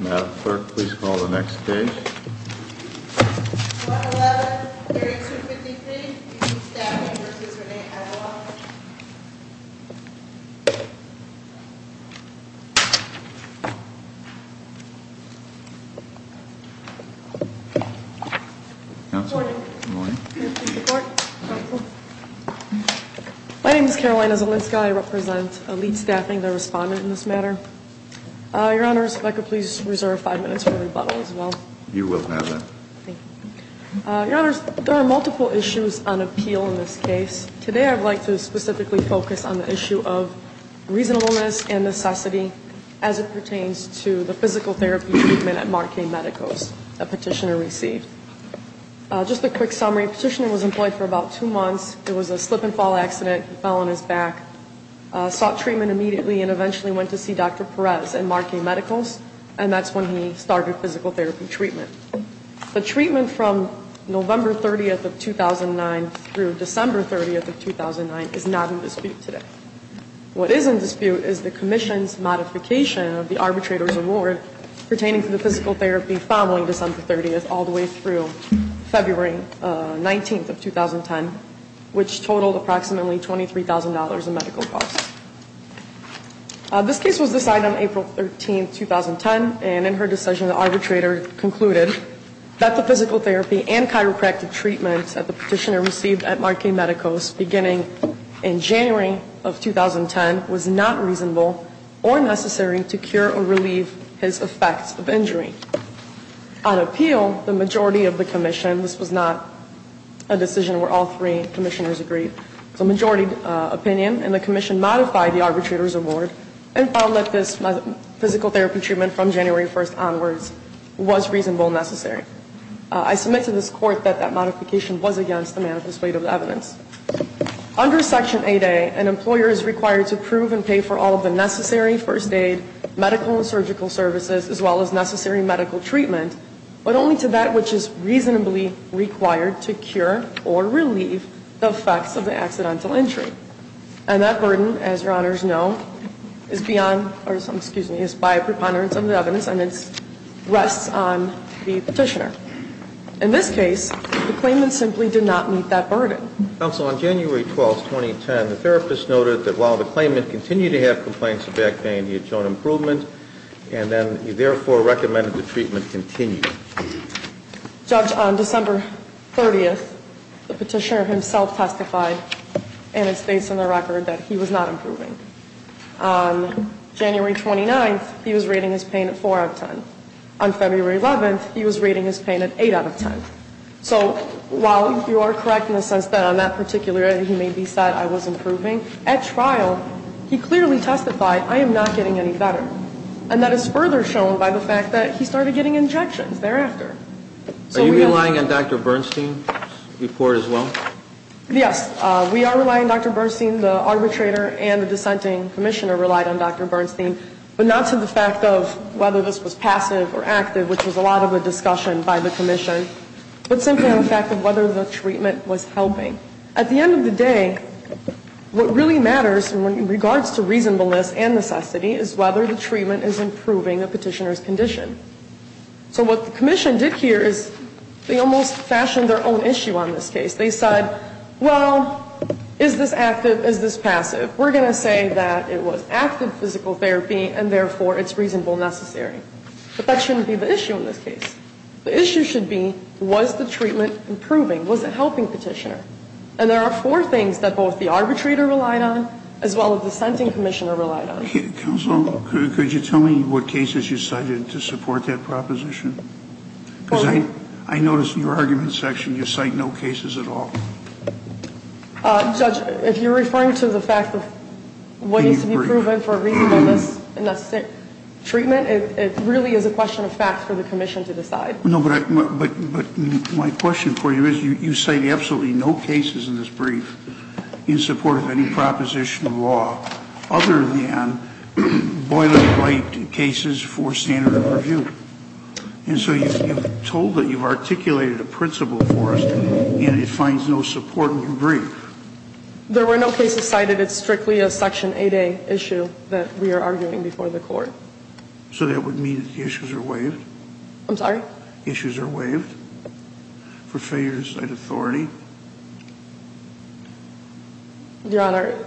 Madam Clerk, please call the next case. 111, Area 253, Elite Staffing v. Renee Aguilar. Good morning. Good morning. My name is Carolina Zielinska. I represent Elite Staffing, the respondent in this matter. Your Honors, if I could please reserve five minutes for rebuttal as well. You will have that. Thank you. Your Honors, there are multiple issues on appeal in this case. Today I would like to specifically focus on the issue of reasonableness and necessity as it pertains to the physical therapy treatment at Marque Medicos that Petitioner received. Just a quick summary. Petitioner was employed for about two months. There was a slip and fall accident. He fell on his back. Sought treatment immediately and eventually went to see Dr. Perez at Marque Medicos, and that's when he started physical therapy treatment. The treatment from November 30th of 2009 through December 30th of 2009 is not in dispute today. What is in dispute is the Commission's modification of the arbitrator's award pertaining to the physical therapy following December 30th all the way through February 19th of 2010, which totaled approximately $23,000 in medical costs. This case was decided on April 13th, 2010, and in her decision the arbitrator concluded that the physical therapy and chiropractic treatment that the Petitioner received at Marque Medicos beginning in January of 2010 was not reasonable or necessary to cure or relieve his effects of injury. On appeal, the majority of the Commission, and this was not a decision where all three Commissioners agreed, the majority opinion in the Commission modified the arbitrator's award and found that this physical therapy treatment from January 1st onwards was reasonable and necessary. I submit to this Court that that modification was against the manifest weight of the evidence. Under Section 8A, an employer is required to approve and pay for all of the necessary first aid, medical and surgical services, as well as necessary medical treatment, but only to that which is reasonably required to cure or relieve the effects of the accidental injury. And that burden, as Your Honors know, is beyond, or excuse me, is by a preponderance of the evidence and it rests on the Petitioner. In this case, the claimant simply did not meet that burden. Counsel, on January 12th, 2010, the therapist noted that while the claimant continued to have complaints of back pain, he had shown improvement, and then he therefore recommended the treatment continue. Judge, on December 30th, the Petitioner himself testified, and it states in the record that he was not improving. On January 29th, he was rating his pain at 4 out of 10. On February 11th, he was rating his pain at 8 out of 10. So while you are correct in the sense that on that particular day he may have said, I was improving, at trial he clearly testified, I am not getting any better. And that is further shown by the fact that he started getting injections thereafter. Are you relying on Dr. Bernstein's report as well? Yes. We are relying, Dr. Bernstein, the arbitrator and the dissenting commissioner relied on Dr. Bernstein, but not to the fact of whether this was passive or active, which was a lot of a discussion by the commission, but simply on the fact of whether the treatment was helping. At the end of the day, what really matters in regards to reasonableness and necessity is whether the treatment is improving a Petitioner's condition. So what the commission did here is they almost fashioned their own issue on this case. They said, well, is this active, is this passive? We are going to say that it was active physical therapy, and therefore it's reasonable necessary. But that shouldn't be the issue in this case. The issue should be, was the treatment improving? Was it helping Petitioner? And there are four things that both the arbitrator relied on as well as the dissenting commissioner relied on. Counsel, could you tell me what cases you cited to support that proposition? Because I noticed in your argument section you cite no cases at all. Judge, if you're referring to the fact of what needs to be proven for reasonableness and necessary treatment, it really is a question of facts for the commission to decide. No, but my question for you is you cite absolutely no cases in this brief in support of any proposition of law other than boilerplate cases for standard of review. And so you've told that you've articulated a principle for us, and it finds no support in your brief. There were no cases cited. It's strictly a Section 8A issue that we are arguing before the Court. So that would mean that the issues are waived? I'm sorry? Issues are waived for failures in authority? Your Honor,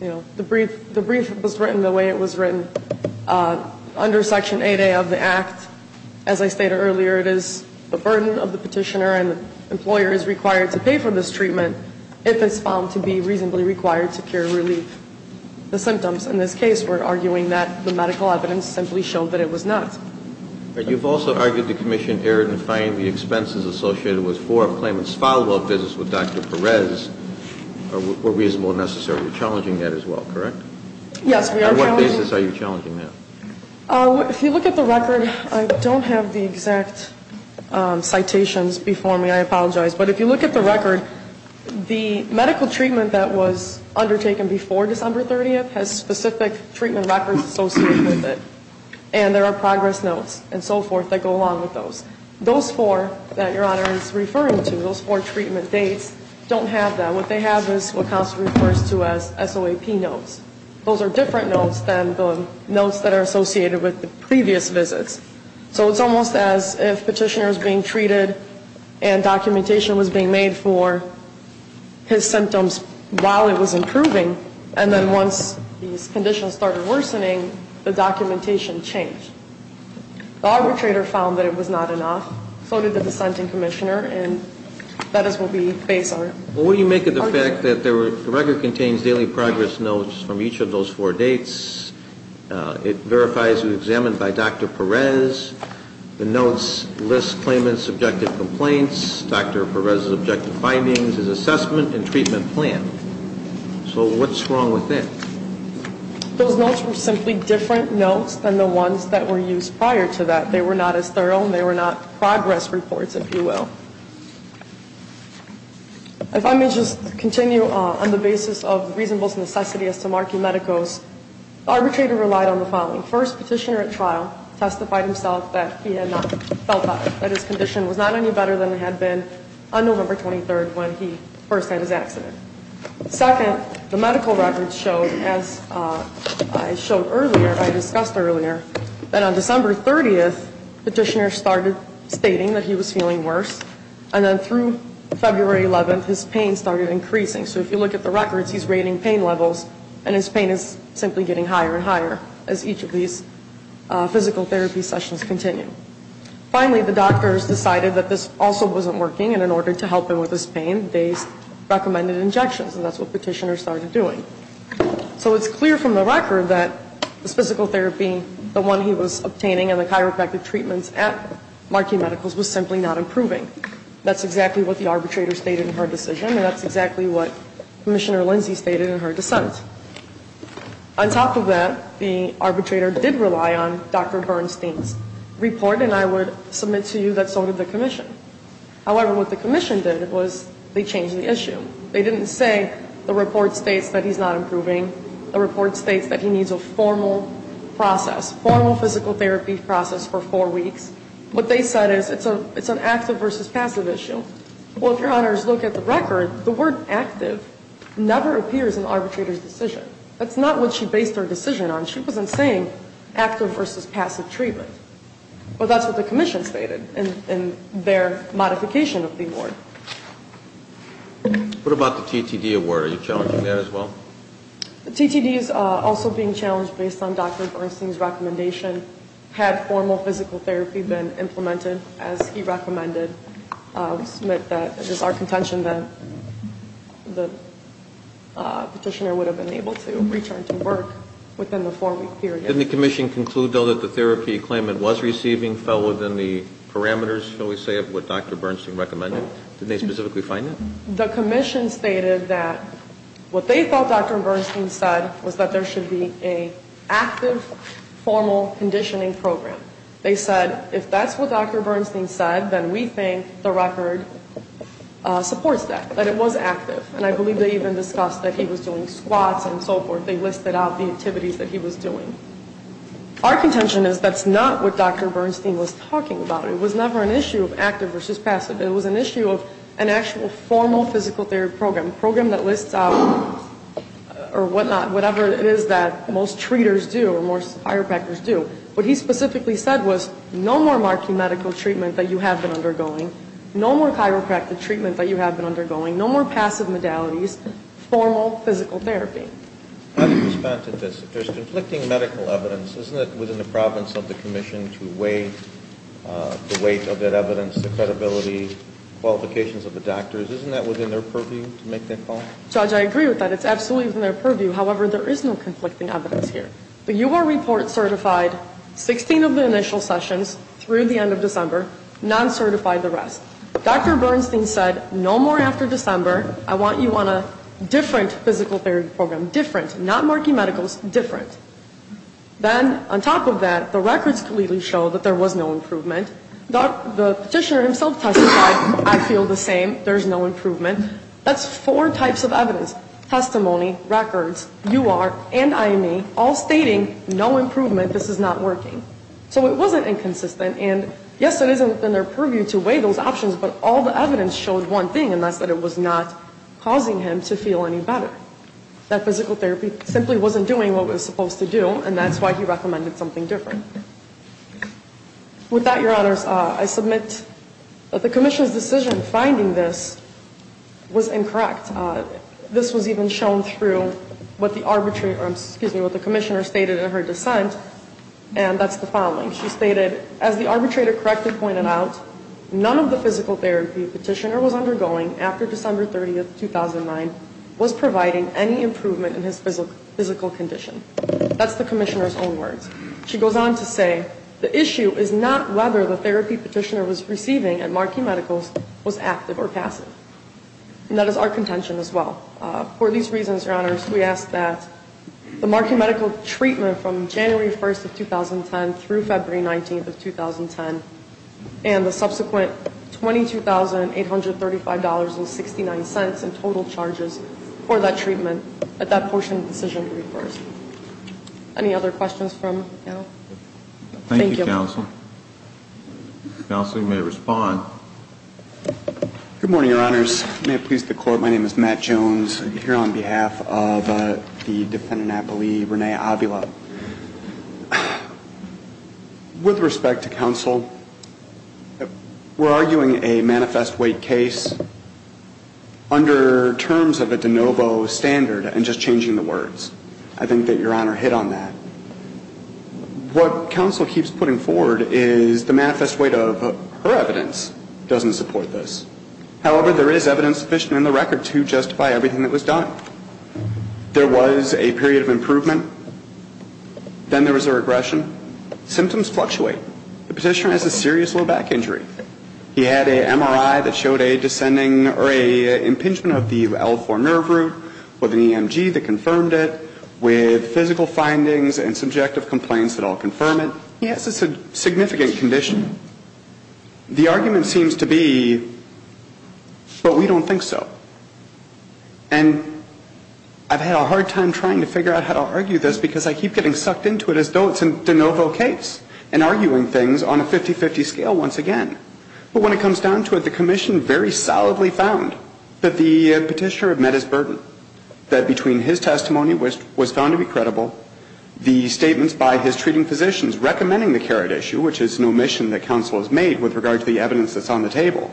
you know, the brief was written the way it was written. Under Section 8A of the Act, as I stated earlier, it is the burden of the Petitioner and the employer is required to pay for this treatment if it's found to be reasonably required to cure relief. The symptoms in this case were arguing that the medical evidence simply showed that it was not. But you've also argued the commission erred in finding the expenses associated with for a claimant's follow-up visits with Dr. Perez were reasonable and necessary. You're challenging that as well, correct? Yes, we are challenging it. On what basis are you challenging that? If you look at the record, I don't have the exact citations before me, I apologize. But if you look at the record, the medical treatment that was undertaken before December 30th has specific treatment records associated with it. And there are progress notes and so forth that go along with those. Those four that Your Honor is referring to, those four treatment dates, don't have that. What they have is what counsel refers to as SOAP notes. Those are different notes than the notes that are associated with the previous visits. So it's almost as if Petitioner is being treated and documentation was being made for his symptoms while it was improving and then once these conditions started worsening, the documentation changed. The arbitrator found that it was not enough. So did the dissenting commissioner, and that is what we base on. Well, what do you make of the fact that the record contains daily progress notes from each of those four dates? It verifies it was examined by Dr. Perez. The notes list claimant's objective complaints, Dr. Perez's objective findings, his assessment, and treatment plan. So what's wrong with that? Those notes were simply different notes than the ones that were used prior to that. They were not as thorough and they were not progress reports, if you will. If I may just continue on the basis of reasonable necessity as to marking Medicos, the arbitrator relied on the following. First, Petitioner at trial testified himself that he had not felt better, that his condition was not any better than it had been on November 23rd when he first had his accident. Second, the medical records showed, as I showed earlier, I discussed earlier, that on December 30th, Petitioner started stating that he was feeling worse, and then through February 11th, his pain started increasing. So if you look at the records, he's rating pain levels, and his pain is simply getting higher and higher as each of these physical therapy sessions continue. Finally, the doctors decided that this also wasn't working, and in order to help him with his pain, they recommended injections. And that's what Petitioner started doing. So it's clear from the record that this physical therapy, the one he was obtaining and the chiropractic treatments at Marquis Medicals, was simply not improving. That's exactly what the arbitrator stated in her decision, and that's exactly what Commissioner Lindsay stated in her dissent. On top of that, the arbitrator did rely on Dr. Bernstein's report, and I would submit to you that so did the commission. However, what the commission did was they changed the issue. They didn't say the report states that he's not improving, the report states that he needs a formal process, formal physical therapy process for four weeks. What they said is it's an active versus passive issue. Well, if your honors look at the record, the word active never appears in the arbitrator's decision. That's not what she based her decision on. She wasn't saying active versus passive treatment. But that's what the commission stated in their modification of the award. What about the TTD award? Are you challenging that as well? The TTD is also being challenged based on Dr. Bernstein's recommendation, had formal physical therapy been implemented as he recommended. We submit that it is our contention that the petitioner would have been able to return to work within the four-week period. Didn't the commission conclude, though, that the therapy claimant was receiving fell within the parameters, shall we say, of what Dr. Bernstein recommended? Didn't they specifically find that? The commission stated that what they thought Dr. Bernstein said was that there should be an active, formal conditioning program. They said if that's what Dr. Bernstein said, then we think the record supports that, that it was active. And I believe they even discussed that he was doing squats and so forth. They listed out the activities that he was doing. Our contention is that's not what Dr. Bernstein was talking about. It was never an issue of active versus passive. It was an issue of an actual formal physical therapy program, a program that lists out or whatnot, whatever it is that most treaters do or most chiropractors do. What he specifically said was no more marking medical treatment that you have been undergoing, no more chiropractic treatment that you have been undergoing, no more passive modalities, formal physical therapy. How do you respond to this? There's conflicting medical evidence. Isn't it within the province of the commission to weigh the weight of that evidence, the credibility, qualifications of the doctors? Isn't that within their purview to make that call? Judge, I agree with that. It's absolutely within their purview. However, there is no conflicting evidence here. The UR report certified 16 of the initial sessions through the end of December, non-certified the rest. Dr. Bernstein said no more after December. I want you on a different physical therapy program, different, not marking medicals, different. Then on top of that, the records clearly show that there was no improvement. The petitioner himself testified, I feel the same, there's no improvement. That's four types of evidence, testimony, records, UR, and IME, all stating no improvement, this is not working. So it wasn't inconsistent, and yes, it is within their purview to weigh those options, but all the evidence showed one thing, and that's that it was not causing him to feel any better, that physical therapy simply wasn't doing what it was supposed to do, and that's why he recommended something different. With that, Your Honors, I submit that the commissioner's decision finding this was incorrect. This was even shown through what the arbitrator, excuse me, what the commissioner stated in her dissent, and that's the following. She stated, as the arbitrator correctly pointed out, none of the physical therapy the petitioner was undergoing after December 30, 2009, was providing any improvement in his physical condition. That's the commissioner's own words. She goes on to say, the issue is not whether the therapy petitioner was receiving at Markey Medicals was active or passive. And that is our contention as well. For these reasons, Your Honors, we ask that the Markey Medical treatment from January 1 of 2010 through February 19 of 2010, and the subsequent $22,835.69 in total charges for that treatment at that portion of the decision to be reversed. Any other questions from the panel? Thank you. Thank you, Counsel. Counsel, you may respond. Good morning, Your Honors. May it please the Court, my name is Matt Jones. I'm here on behalf of the defendant, I believe, Renee Avila. With respect to counsel, we're arguing a manifest weight case under terms of a de novo standard and just changing the words. I think that Your Honor hit on that. What counsel keeps putting forward is the manifest weight of her evidence doesn't support this. However, there is evidence sufficient in the record to justify everything that was done. There was a period of improvement. Then there was a regression. Symptoms fluctuate. The petitioner has a serious low back injury. He had an MRI that showed a descending or an impingement of the L4 nerve root, with an EMG that confirmed it, with physical findings and subjective complaints that all confirm it. He has a significant condition. The argument seems to be, but we don't think so. And I've had a hard time trying to figure out how to argue this, because I keep getting sucked into it as though it's a de novo case and arguing things on a 50-50 scale once again. But when it comes down to it, the commission very solidly found that the petitioner had met his burden, that between his testimony, which was found to be credible, the statements by his treating physicians recommending the carrot issue, which is an omission that counsel has made with regard to the evidence that's on the table,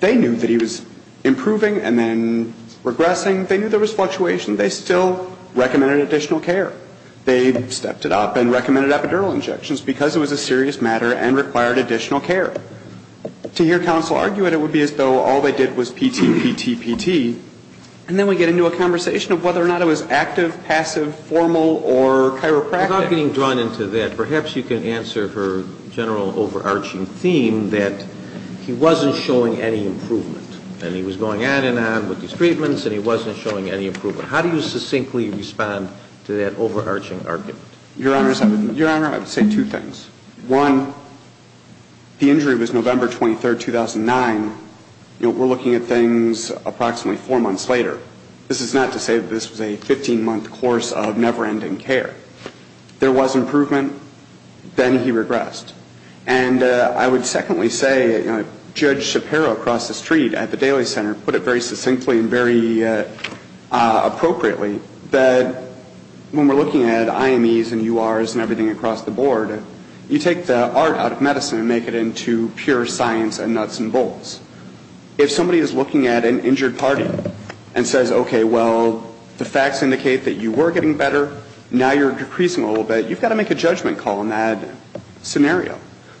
they knew that he was improving and then regressing. They knew there was fluctuation. They still recommended additional care. They stepped it up and recommended epidural injections because it was a serious matter and required additional care. To hear counsel argue it, it would be as though all they did was PT, PT, PT. And then we get into a conversation of whether or not it was active, passive, formal, or chiropractic. Without getting drawn into that, perhaps you can answer her general overarching theme that he wasn't showing any improvement. And he was going on and on with his treatments, and he wasn't showing any improvement. How do you succinctly respond to that overarching argument? Your Honor, I would say two things. One, the injury was November 23, 2009. We're looking at things approximately four months later. This is not to say that this was a 15-month course of never-ending care. There was improvement. Then he regressed. And I would secondly say, you know, Judge Shapiro across the street at the Daly Center put it very succinctly and very appropriately that when we're looking at IMEs and URs and everything across the board, you take the art out of medicine and make it into pure science and nuts and bolts. If somebody is looking at an injured party and says, okay, well, the facts indicate that you were getting better, now you're decreasing a little bit, you've got to make a judgment call in that scenario,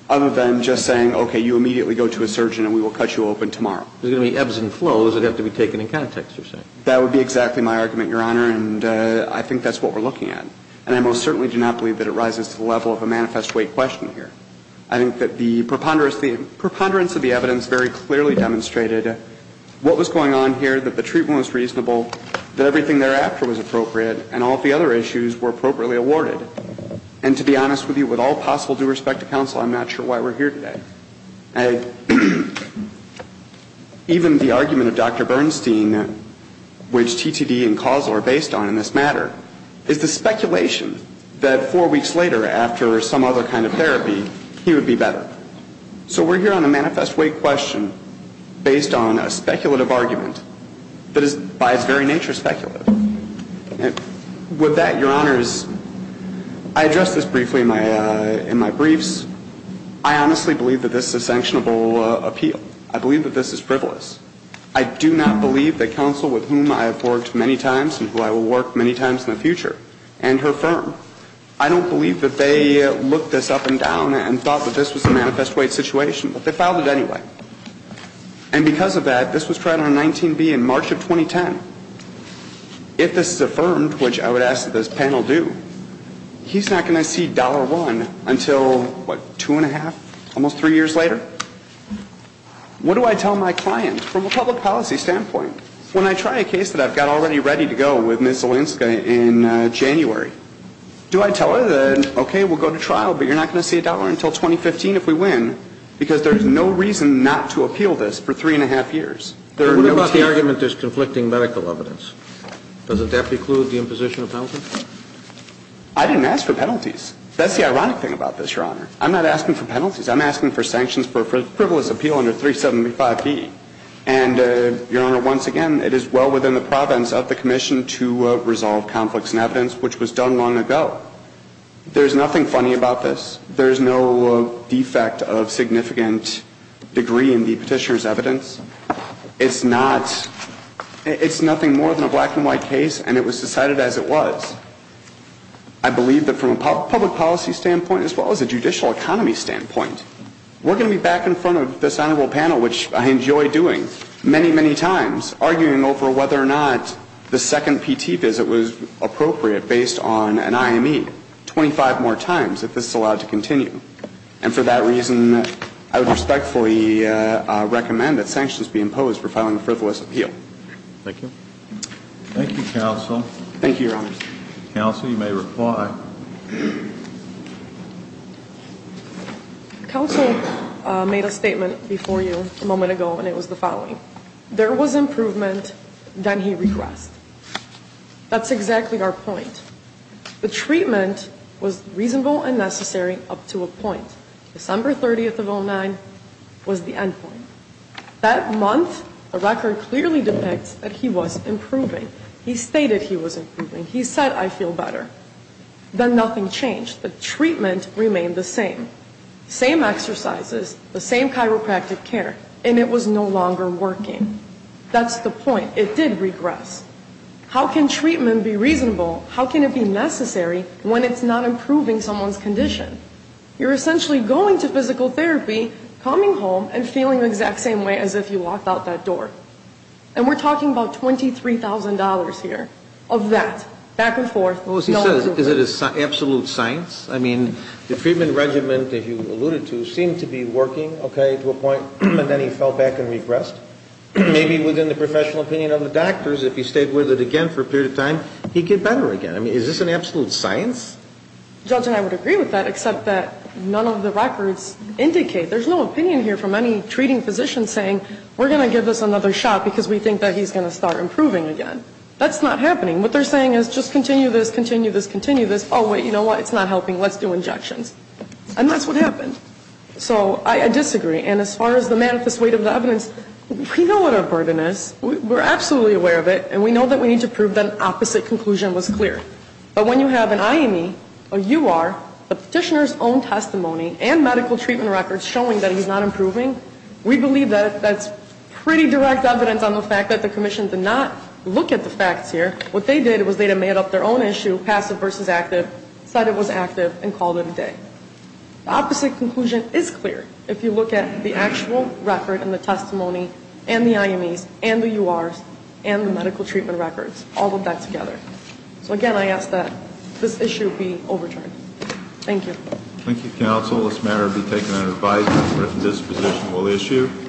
other than just saying, okay, you immediately go to a surgeon and we will cut you open tomorrow. There's going to be ebbs and flows that have to be taken in context, you're saying. That would be exactly my argument, Your Honor, and I think that's what we're looking at. And I most certainly do not believe that it rises to the level of a manifest weight question here. I think that the preponderance of the evidence very clearly demonstrated what was going on here, that the treatment was reasonable, that everything thereafter was appropriate, and all of the other issues were appropriately awarded. And to be honest with you, with all possible due respect to counsel, I'm not sure why we're here today. And even the argument of Dr. Bernstein, which TTD and causal are based on in this matter, is the speculation that four weeks later after some other kind of therapy, he would be better. So we're here on a manifest weight question based on a speculative argument that is by its very nature speculative. With that, Your Honors, I address this briefly in my briefs. I honestly believe that this is a sanctionable appeal. I believe that this is frivolous. I do not believe that counsel with whom I have worked many times and who I will work many times in the future and her firm, I don't believe that they looked this up and down and thought that this was a manifest weight situation, but they filed it anyway. And because of that, this was tried on 19B in March of 2010. If this is affirmed, which I would ask that this panel do, he's not going to see $1 until, what, two and a half, almost three years later? What do I tell my client from a public policy standpoint? When I try a case that I've got already ready to go with Ms. Olinska in January, do I tell her that, okay, we'll go to trial, but you're not going to see $1 until 2015 if we win, because there's no reason not to appeal this for three and a half years? What about the argument there's conflicting medical evidence? Doesn't that preclude the imposition of penalties? I didn't ask for penalties. That's the ironic thing about this, Your Honor. I'm not asking for penalties. I'm asking for sanctions for frivolous appeal under 375B. And, Your Honor, once again, it is well within the province of the commission to resolve conflicts in evidence, which was done long ago. There's nothing funny about this. There's no defect of significant degree in the petitioner's evidence. It's not ñ it's nothing more than a black-and-white case, and it was decided as it was. I believe that from a public policy standpoint as well as a judicial economy standpoint, we're going to be back in front of this honorable panel, which I enjoy doing, many, many times, arguing over whether or not the second PTE visit was appropriate based on an IME 25 more times if this is allowed to continue. And for that reason, I would respectfully recommend that sanctions be imposed for filing a frivolous appeal. Thank you. Thank you, counsel. Thank you, Your Honor. Counsel, you may reply. Counsel made a statement before you a moment ago, and it was the following. There was improvement, then he regressed. That's exactly our point. The treatment was reasonable and necessary up to a point. December 30th of 09 was the end point. That month, the record clearly depicts that he was improving. He stated he was improving. He said, I feel better. Then nothing changed. The treatment remained the same. Same exercises, the same chiropractic care, and it was no longer working. That's the point. It did regress. How can treatment be reasonable? How can it be necessary when it's not improving someone's condition? You're essentially going to physical therapy, coming home, and feeling the exact same way as if you walked out that door. And we're talking about $23,000 here of that, back and forth. Well, as he says, is it an absolute science? I mean, the treatment regimen that you alluded to seemed to be working, okay, to a point, and then he fell back and regressed. Maybe within the professional opinion of the doctors, if he stayed with it again for a period of time, he'd get better again. I mean, is this an absolute science? Judge and I would agree with that, except that none of the records indicate. There's no opinion here from any treating physician saying we're going to give this another shot because we think that he's going to start improving again. That's not happening. What they're saying is just continue this, continue this, continue this. Oh, wait, you know what? It's not helping. Let's do injections. And that's what happened. So I disagree. And as far as the manifest weight of the evidence, we know what our burden is. We're absolutely aware of it, and we know that we need to prove that an opposite conclusion was clear. But when you have an IME, a UR, the petitioner's own testimony and medical treatment records showing that he's not improving, we believe that that's pretty direct evidence on the fact that the Commission did not look at the facts here. What they did was they had made up their own issue, passive versus active, said it was active, and called it a day. The opposite conclusion is clear if you look at the actual record and the testimony and the IMEs and the URs and the medical treatment records, all of that together. So, again, I ask that this issue be overturned. Thank you. Thank you, counsel. This matter will be taken under advisement. A written disposition will issue.